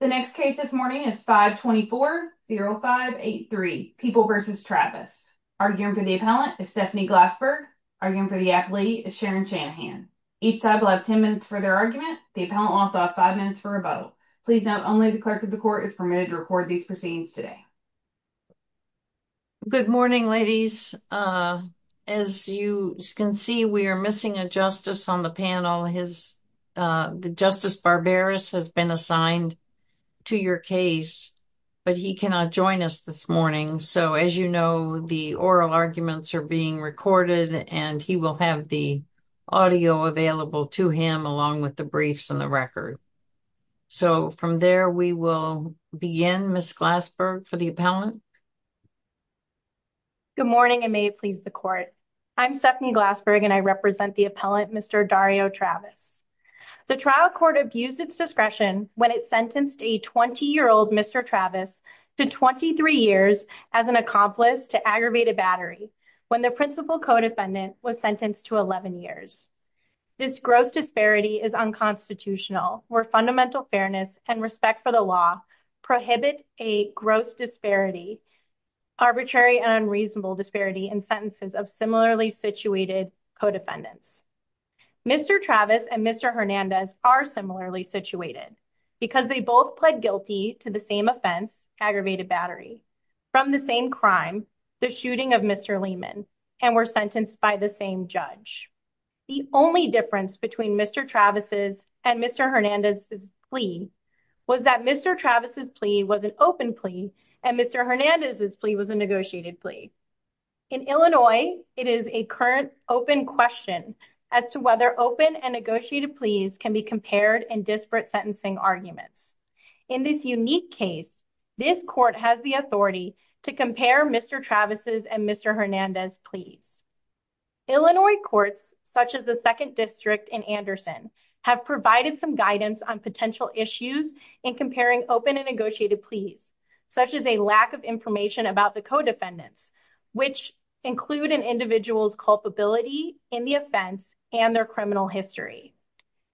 The next case this morning is 524-0583, People v. Travis. Arguing for the appellant is Stephanie Glassberg. Arguing for the appealee is Sharon Shanahan. Each side will have 10 minutes for their argument. The appellant will also have 5 minutes for rebuttal. Please note, only the clerk of the court is permitted to record these proceedings today. Good morning, ladies. As you can see, we are missing a justice on the panel. Justice Barberis has been assigned to your case, but he cannot join us this morning. So, as you know, the oral arguments are being recorded, and he will have the audio available to him along with the briefs and the record. So, from there, we will begin. Ms. Glassberg, for the appellant. Good morning, and may it please the court. I'm Stephanie Glassberg, and I represent the appellant, Mr. Dario Travis. The trial court abused its discretion when it sentenced a 20-year-old Mr. Travis to 23 years as an accomplice to aggravated battery when the principal co-defendant was sentenced to 11 years. This gross disparity is unconstitutional, where fundamental fairness and respect for the law prohibit a gross disparity, arbitrary and unreasonable disparity, in sentences of similarly situated co-defendants. Mr. Travis and Mr. Hernandez are similarly situated because they both pled guilty to the same offense, aggravated battery, from the same crime, the shooting of Mr. Lehman, and were sentenced by the same judge. The only difference between Mr. Travis' and Mr. Hernandez' plea was that Mr. Travis' plea was an open plea and Mr. Hernandez' plea was a negotiated plea. In Illinois, it is a current open question as to whether open and negotiated pleas can be compared in disparate sentencing arguments. In this unique case, this court has the authority to compare Mr. Travis' and Mr. Hernandez' pleas. Illinois courts, such as the 2nd District and Anderson, have provided some guidance on potential issues in comparing open and negotiated pleas, such as a lack of information about the co-defendants, which include an individual's culpability in the offense and their criminal history.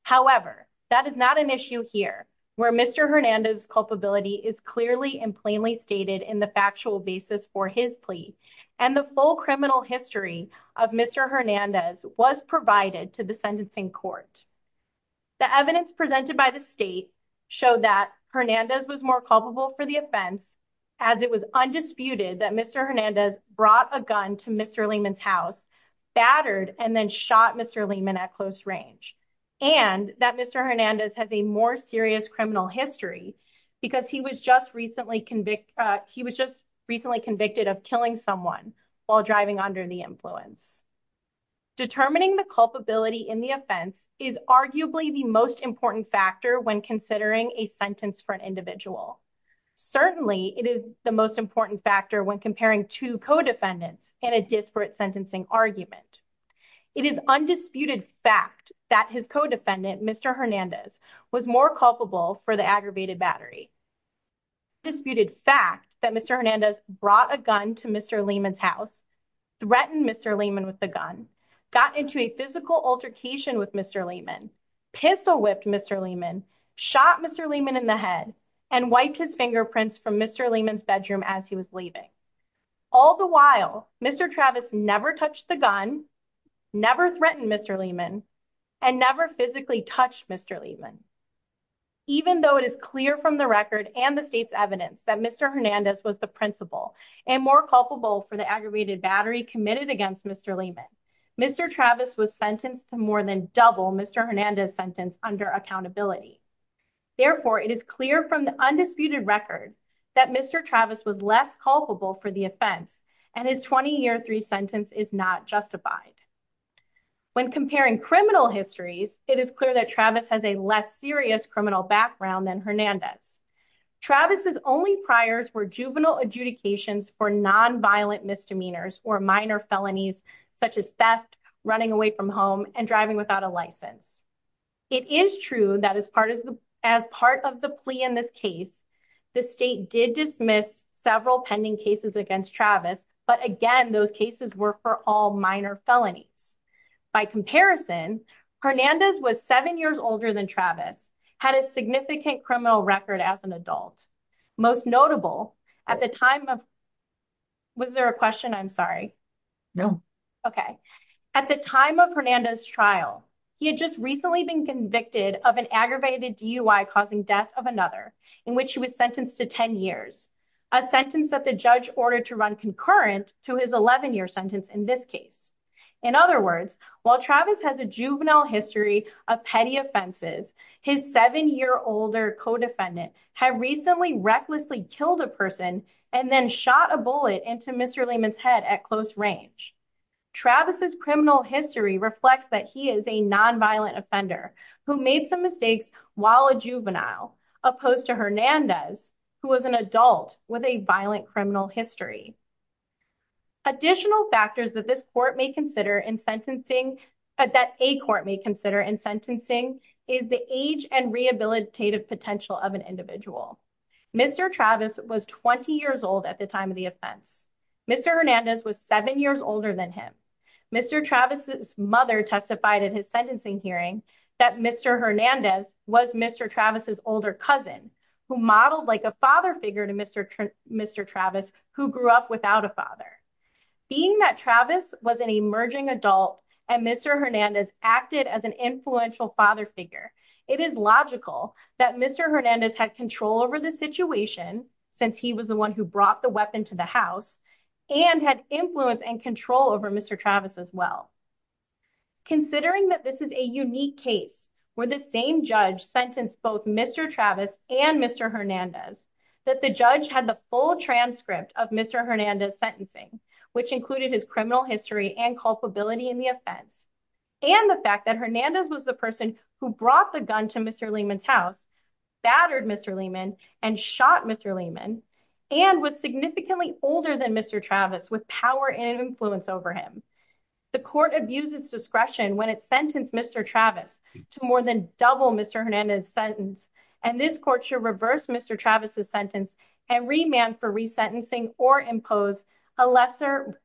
However, that is not an issue here, where Mr. Hernandez' culpability is clearly and plainly stated in the factual basis for his plea, and the full criminal history of Mr. Hernandez was provided to the sentencing court. The evidence presented by the State showed that Hernandez was more culpable for the offense as it was undisputed that Mr. Hernandez brought a gun to Mr. Lehman's house, battered, and then shot Mr. Lehman at close range, and that Mr. Hernandez has a more serious criminal history because he was just recently convicted of killing someone while driving under the influence. Determining the culpability in the offense is arguably the most important factor when considering a sentence for an individual. Certainly, it is the most important factor when comparing two co-defendants in a disparate sentencing argument. It is undisputed fact that his co-defendant, Mr. Hernandez, was more culpable for the aggravated battery. It is undisputed fact that Mr. Hernandez brought a gun to Mr. Lehman's house, threatened Mr. Lehman with the gun, got into a physical altercation with Mr. Lehman, pistol-whipped Mr. Lehman, shot Mr. Lehman in the head, and wiped his fingerprints from Mr. Lehman's bedroom as he was leaving. All the while, Mr. Travis never touched the gun, never threatened Mr. Lehman, and never physically touched Mr. Lehman. Even though it is clear from the record and the state's evidence that Mr. Hernandez was the principal and more culpable for the aggravated battery committed against Mr. Lehman, Mr. Travis was sentenced to more than double Mr. Hernandez's sentence under accountability. Therefore, it is clear from the undisputed record that Mr. Travis was less culpable for the offense and his 20-year sentence is not justified. When comparing criminal histories, it is clear that Travis has a less serious criminal background than Hernandez. Travis's only priors were juvenile adjudications for non-violent misdemeanors or minor felonies such as theft, running away from home, and driving without a license. It is true that as part of the plea in this case, the state did dismiss several pending cases against Travis, but again, those cases were for all minor felonies. By comparison, Hernandez was seven years older than Travis, had a significant criminal record as an adult. Most notable, at the time of Hernandez's trial, he had just recently been convicted of an aggravated DUI causing death of another in which he was sentenced to 10 years, a sentence that the judge ordered to run concurrent to his 11-year sentence in this case. In other words, while Travis has a juvenile history of petty offenses, his seven-year-older co-defendant had recently recklessly killed a person and then shot a bullet into Mr. Lehman's head at close range. Travis's criminal history reflects that he is a non-violent offender who made some mistakes while a juvenile, opposed to Hernandez, who was an adult with a violent criminal history. Additional factors that this court may consider in sentencing, that a court may consider in sentencing, is the age and rehabilitative potential of an individual. Mr. Travis was 20 years old at the time of the offense. Mr. Hernandez was seven years older than him. Mr. Travis's mother testified at his sentencing hearing that Mr. Hernandez was Mr. Travis's older cousin, who modeled like a father figure to Mr. Travis, who grew up without a father. Being that Travis was an emerging adult and Mr. Hernandez acted as an influential father figure, it is logical that Mr. Hernandez had control over the situation, since he was the one who brought the weapon to the house, and had influence and control over Mr. Travis as well. Considering that this is a unique case where the same judge sentenced both Mr. Travis and Mr. Hernandez, that the judge had the full transcript of Mr. Hernandez's sentencing, which included his criminal history and culpability in the offense, and the fact that Hernandez was the person who brought the gun to Mr. Lehman's house, battered Mr. Lehman, and shot Mr. Lehman, and was significantly older than Mr. Travis with power and influence over him, the court abused its discretion when it sentenced Mr. Travis to more than double Mr. Hernandez's sentence, and this court should reverse Mr. Travis's sentence and remand for resentencing or impose a lesser,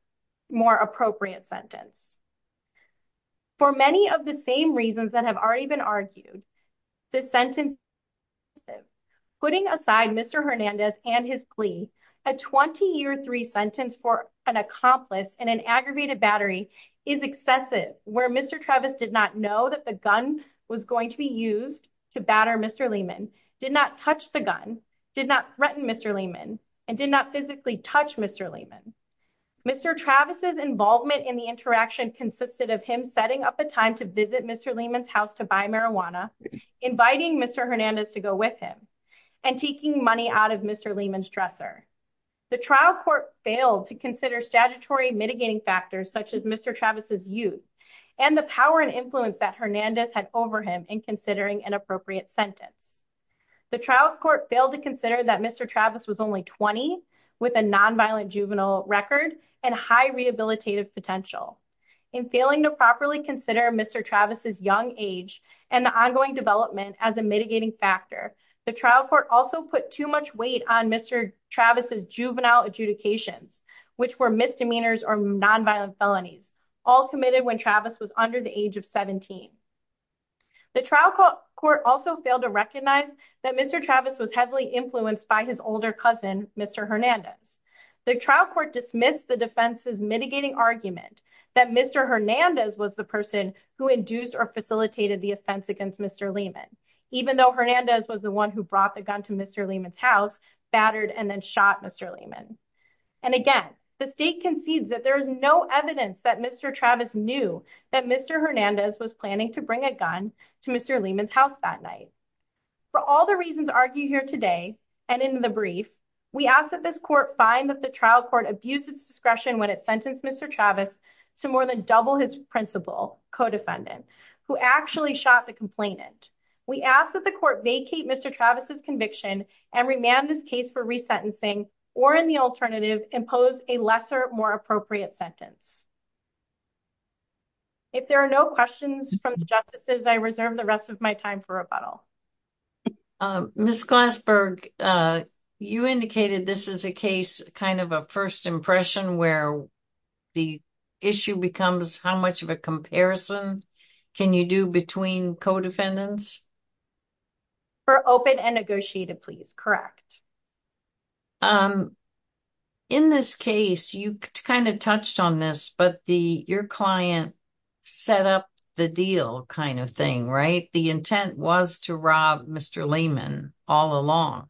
more appropriate sentence. For many of the same reasons that have already been argued, this sentence is excessive. Putting aside Mr. Hernandez and his plea, a 20-year-3 sentence for an accomplice in an aggravated battery is excessive, where Mr. Travis did not know that the gun was going to be used to batter Mr. Lehman, did not touch the gun, did not threaten Mr. Lehman, and did not physically touch Mr. Lehman. Mr. Travis's involvement in the interaction consisted of him setting up a time to visit Mr. Lehman's house to buy marijuana, inviting Mr. Hernandez to go with him, and taking money out of Mr. Lehman's dresser. The trial court failed to consider statutory mitigating factors such as Mr. Travis's youth, and the power and influence that Hernandez had over him in considering an appropriate sentence. The trial court failed to consider that Mr. Travis was only 20 with a nonviolent juvenile record and high rehabilitative potential. In failing to properly consider Mr. Travis's young age and the ongoing development as a mitigating factor, the trial court also put too much weight on Mr. Travis's juvenile adjudications, which were misdemeanors or nonviolent felonies, all committed when Travis was under the age of 17. The trial court also failed to recognize that Mr. Travis was heavily influenced by his older cousin, Mr. Hernandez. The trial court dismissed the defense's mitigating argument that Mr. Hernandez was the person who induced or facilitated the offense against Mr. Lehman, even though Hernandez was the one who brought the gun to Mr. Lehman's house, battered, and then shot Mr. Lehman. And again, the state concedes that there is no evidence that Mr. Travis knew that Mr. Hernandez was planning to bring a gun to Mr. Lehman's house that night. For all the reasons argued here today and in the brief, we ask that this court find that the trial court abused its discretion when it sentenced Mr. Travis to more than double his principal, co-defendant, who actually shot the complainant. We ask that the court vacate Mr. Travis's conviction and remand this case for resentencing or, in the alternative, impose a lesser, more appropriate sentence. If there are no questions from the justices, I reserve the rest of my time for rebuttal. Ms. Glassberg, you indicated this is a case, kind of a first impression, where the issue becomes how much of a comparison can you do between co-defendants? For open and negotiated pleas, correct. In this case, you kind of touched on this, but your client set up the deal kind of thing, right? The intent was to rob Mr. Lehman all along.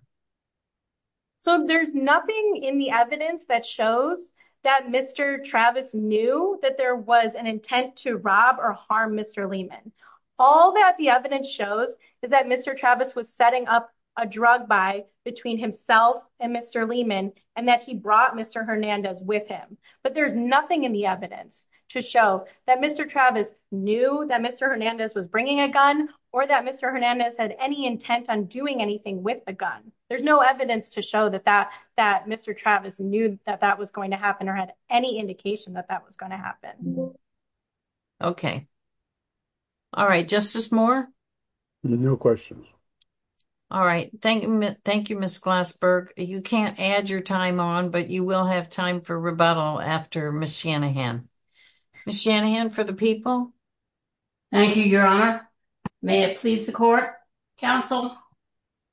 So there's nothing in the evidence that shows that Mr. Travis knew that there was an intent to rob or harm Mr. Lehman. All that the evidence shows is that Mr. Travis was setting up a drug buy between himself and Mr. Lehman and that he brought Mr. Hernandez with him. But there's nothing in the evidence to show that Mr. Travis knew that Mr. Hernandez was bringing a gun or that Mr. Hernandez had any intent on doing anything with the gun. There's no evidence to show that Mr. Travis knew that that was going to happen or had any indication that that was going to happen. Okay. All right. Justice Moore? No questions. All right. Thank you, Ms. Glassberg. You can't add your time on, but you will have time for rebuttal after Ms. Shanahan. Ms. Shanahan, for the people. Thank you, Your Honor. May it please the court. Counsel,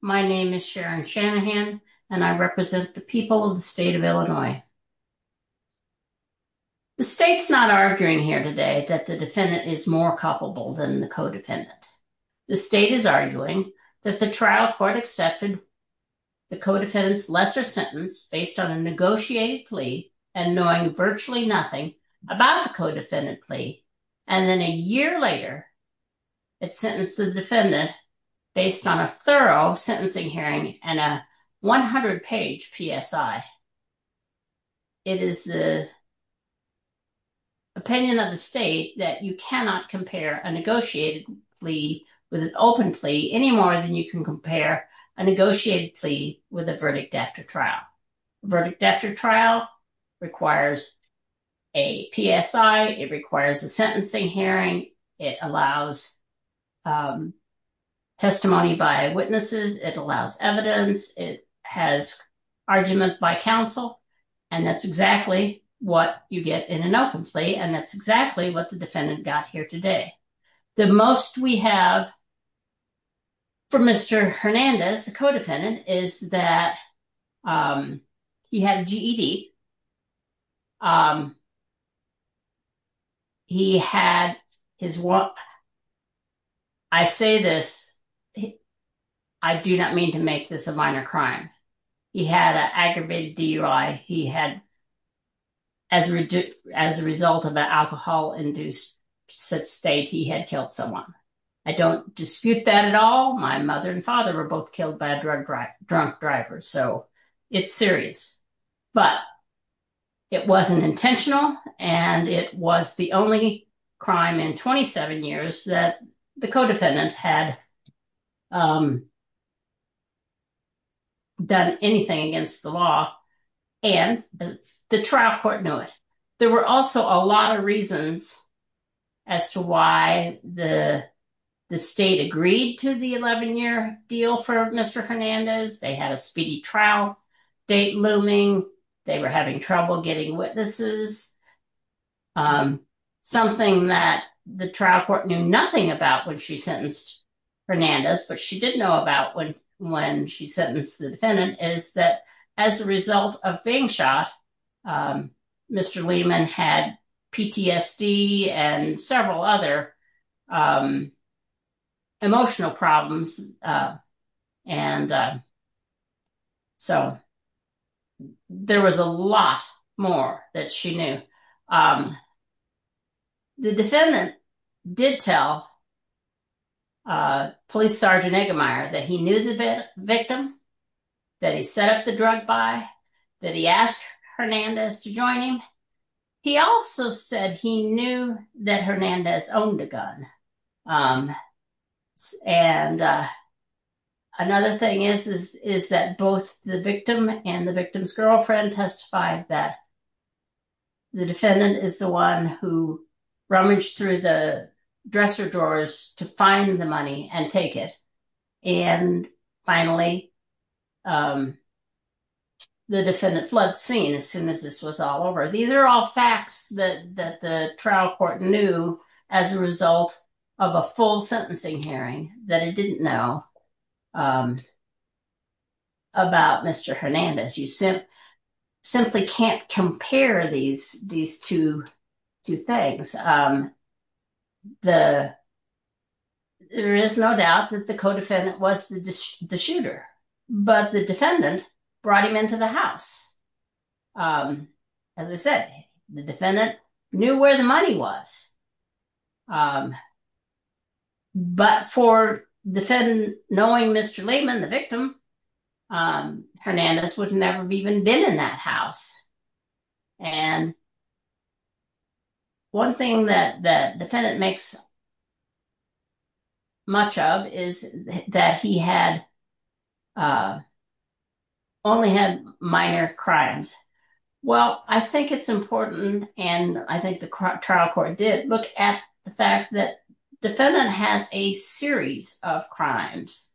my name is Sharon Shanahan, and I represent the people of the state of Illinois. The state's not arguing here today that the defendant is more culpable than the co-defendant. The state is arguing that the trial court accepted the co-defendant's lesser sentence based on a negotiated plea and knowing virtually nothing about the co-defendant plea. And then a year later, it sentenced the defendant based on a thorough sentencing hearing and a 100-page PSI. It is the opinion of the state that you cannot compare a negotiated plea with an open plea any more than you can compare a negotiated plea with a verdict after trial. A verdict after trial requires a PSI. It requires a sentencing hearing. It allows testimony by witnesses. It allows evidence. It has argument by counsel. And that's exactly what you get in an open plea. And that's exactly what the defendant got here today. The most we have for Mr. Hernandez, the co-defendant, is that he had GED. He had his walk. I say this. I do not mean to make this a minor crime. He had an aggravated DUI. As a result of an alcohol-induced state, he had killed someone. I don't dispute that at all. My mother and father were both killed by a drunk driver, so it's serious. But it wasn't intentional, and it was the only crime in 27 years that the co-defendant had done anything against the law, and the trial court knew it. There were also a lot of reasons as to why the state agreed to the 11-year deal for Mr. Hernandez. They had a speedy trial date looming. They were having trouble getting witnesses. Something that the trial court knew nothing about when she sentenced Hernandez, but she did know about when she sentenced the defendant, is that as a result of being shot, Mr. Lehman had PTSD and several other emotional problems, and so there was a lot more that she knew. The defendant did tell Police Sergeant Iggemeier that he knew the victim, that he set up the drug buy, that he asked Hernandez to join him. He also said he knew that Hernandez owned a gun. Another thing is that both the victim and the victim's girlfriend testified that the defendant is the one who rummaged through the dresser drawers to find the money and take it. And finally, the defendant fled scene as soon as this was all over. These are all facts that the trial court knew as a result of a full sentencing hearing that it didn't know about Mr. Hernandez. You simply can't compare these two things. There is no doubt that the co-defendant was the shooter, but the defendant brought him into the house. As I said, the defendant knew where the money was. But for knowing Mr. Lehman, the victim, Hernandez would never have even been in that house. And one thing that the defendant makes much of is that he had only had minor crimes. Well, I think it's important, and I think the trial court did look at the fact that the defendant has a series of crimes.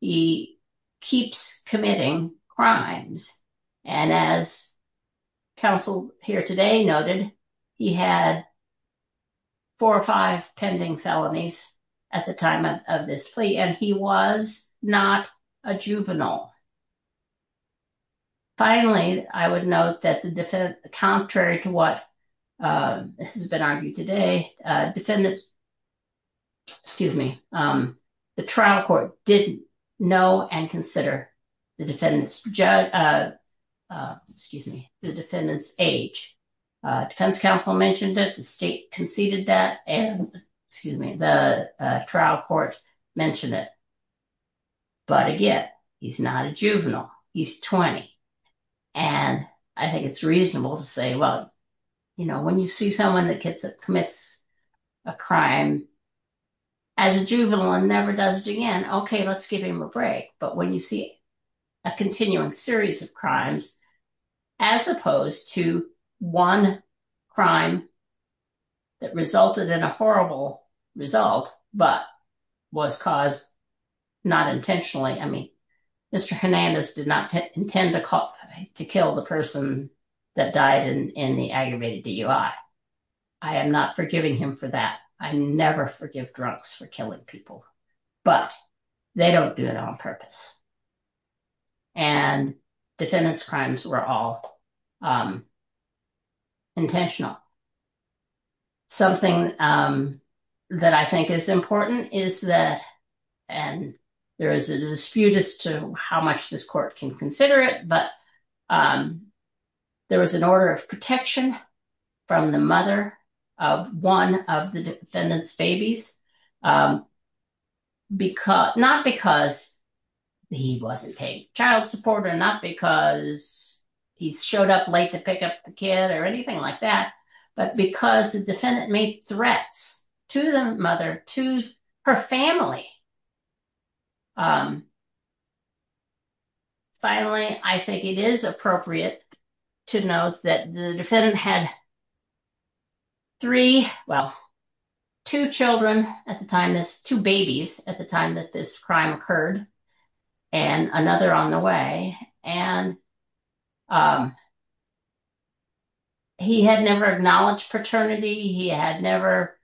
He keeps committing crimes. And as counsel here today noted, he had four or five pending felonies at the time of this plea. And he was not a juvenile. Finally, I would note that the defendant, contrary to what has been argued today, the trial court didn't know and consider the defendant's age. Defense counsel mentioned that the state conceded that, and the trial court mentioned it. But again, he's not a juvenile. He's 20. And I think it's reasonable to say, well, you know, when you see someone that commits a crime as a juvenile and never does it again, OK, let's give him a break. But when you see a continuing series of crimes, as opposed to one crime that resulted in a horrible result, but was caused not intentionally. I mean, Mr. Hernandez did not intend to kill the person that died in the aggravated DUI. I am not forgiving him for that. I never forgive drunks for killing people, but they don't do it on purpose. And defendants crimes were all intentional. Something that I think is important is that and there is a dispute as to how much this court can consider it. But there was an order of protection from the mother of one of the defendant's babies. Because not because he wasn't a child supporter, not because he showed up late to pick up the kid or anything like that, but because the defendant made threats to the mother, to her family. Finally, I think it is appropriate to note that the defendant had three, well, two children at the time, two babies at the time that this crime occurred and another on the way. And he had never acknowledged paternity. He had never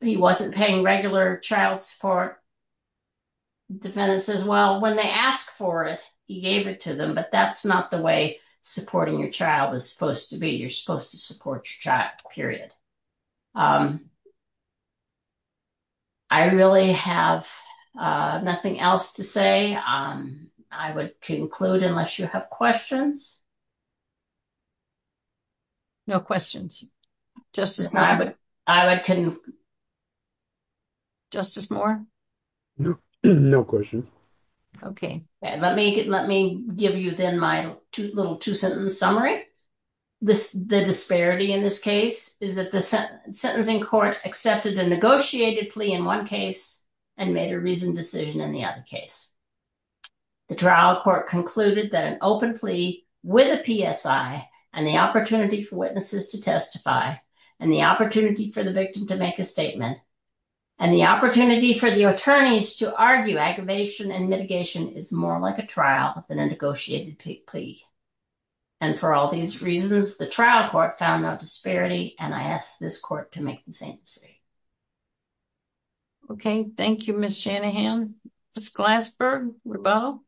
he wasn't paying regular child support. Defendants as well, when they ask for it, he gave it to them. But that's not the way supporting your child is supposed to be. You're supposed to support your child, period. I really have nothing else to say. I would conclude unless you have questions. No questions. Just as I would. I would. Justice Moore. No question. OK, let me let me give you then my little two sentence summary. The disparity in this case is that the sentencing court accepted a negotiated plea in one case and made a reasoned decision in the other case. The trial court concluded that an open plea with a PSI and the opportunity for witnesses to testify and the opportunity for the victim to make a statement and the opportunity for the attorneys to argue aggravation and mitigation is more like a trial than a negotiated plea. And for all these reasons, the trial court found no disparity. And I asked this court to make the same mistake. OK, thank you, Miss Shanahan. Miss Glasberg, rebuttal.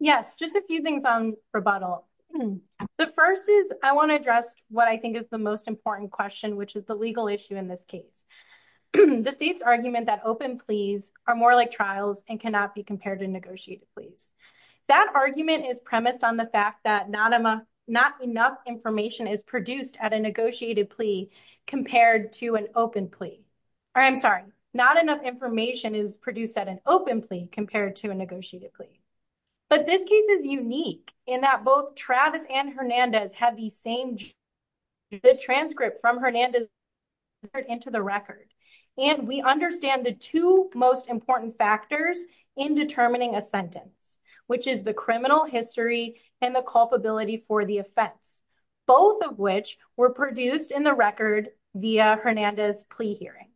Yes, just a few things on rebuttal. The first is I want to address what I think is the most important question, which is the legal issue in this case. The state's argument that open pleas are more like trials and cannot be compared to negotiated pleas. That argument is premised on the fact that not enough information is produced at a negotiated plea compared to an open plea. I'm sorry, not enough information is produced at an open plea compared to a negotiated plea. But this case is unique in that both Travis and Hernandez had the same transcript from Hernandez into the record. And we understand the two most important factors in determining a sentence. Which is the criminal history and the culpability for the offense, both of which were produced in the record via Hernandez plea hearing.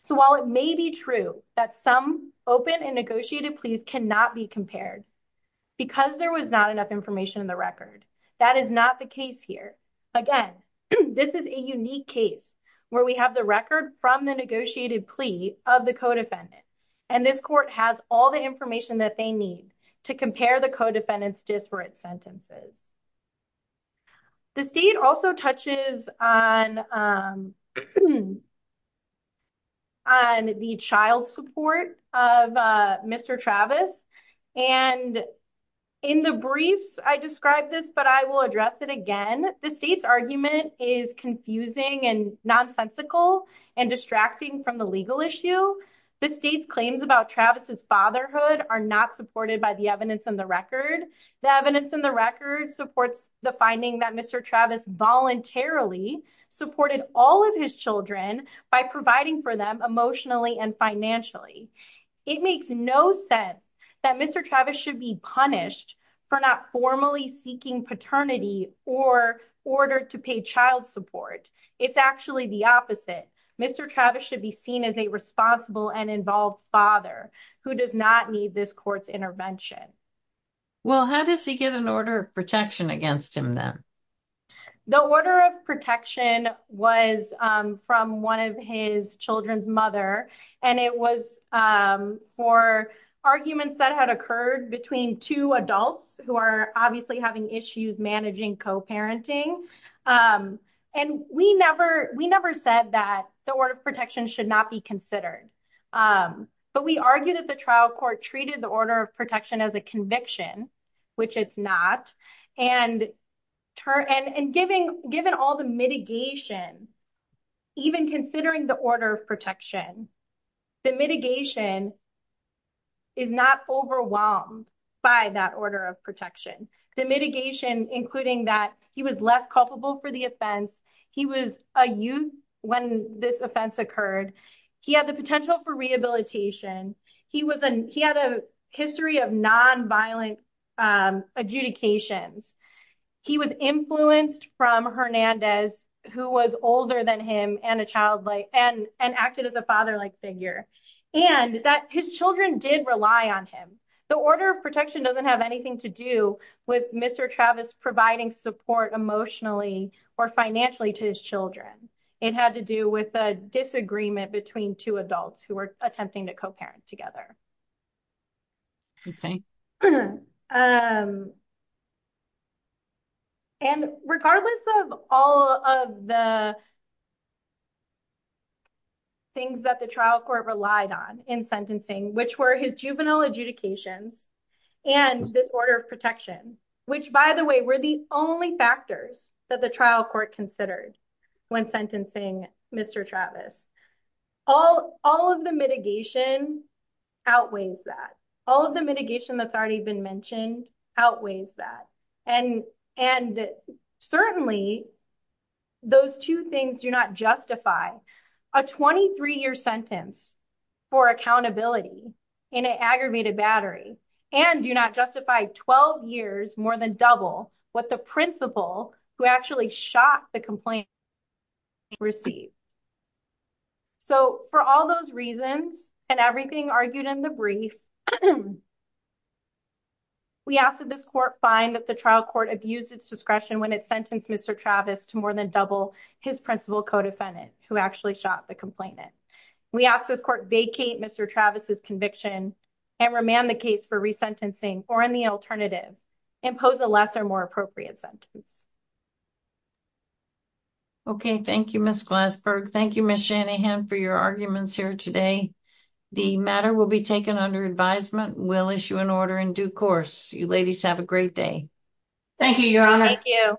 So while it may be true that some open and negotiated pleas cannot be compared because there was not enough information in the record, that is not the case here. Again, this is a unique case where we have the record from the negotiated plea of the co-defendant. And this court has all the information that they need to compare the co-defendant's disparate sentences. The state also touches on the child support of Mr. Travis. And in the briefs, I describe this, but I will address it again. The state's argument is confusing and nonsensical and distracting from the legal issue. The state's claims about Travis's fatherhood are not supported by the evidence in the record. The evidence in the record supports the finding that Mr. Travis voluntarily supported all of his children by providing for them emotionally and financially. It makes no sense that Mr. Travis should be punished for not formally seeking paternity or order to pay child support. It's actually the opposite. Mr. Travis should be seen as a responsible and involved father who does not need this court's intervention. Well, how does he get an order of protection against him then? The order of protection was from one of his children's mother. And it was for arguments that had occurred between two adults who are obviously having issues managing co-parenting. And we never said that the order of protection should not be considered. But we argue that the trial court treated the order of protection as a conviction, which it's not. And given all the mitigation, even considering the order of protection, the mitigation is not overwhelmed by that order of protection. The mitigation, including that he was less culpable for the offense. He was a youth when this offense occurred. He had the potential for rehabilitation. He had a history of nonviolent adjudications. He was influenced from Hernandez, who was older than him and acted as a father-like figure. And his children did rely on him. The order of protection doesn't have anything to do with Mr. Travis providing support emotionally or financially to his children. It had to do with a disagreement between two adults who were attempting to co-parent together. Okay. And regardless of all of the things that the trial court relied on in sentencing, which were his juvenile adjudications and this order of protection, which, by the way, were the only factors that the trial court considered when sentencing Mr. Travis. All of the mitigation outweighs that. All of the mitigation that's already been mentioned outweighs that. And certainly, those two things do not justify a 23-year sentence for accountability in an aggravated battery and do not justify 12 years more than double what the principal who actually shot the complaint received. So, for all those reasons and everything argued in the brief, we ask that this court find that the trial court abused its discretion when it sentenced Mr. Travis to more than double his principal co-defendant who actually shot the complainant. We ask this court vacate Mr. Travis's conviction and remand the case for resentencing or, in the alternative, impose a less or more appropriate sentence. Okay. Thank you, Ms. Glassberg. Thank you, Ms. Shanahan, for your arguments here today. The matter will be taken under advisement. We'll issue an order in due course. You ladies have a great day. Thank you, Your Honor. Thank you.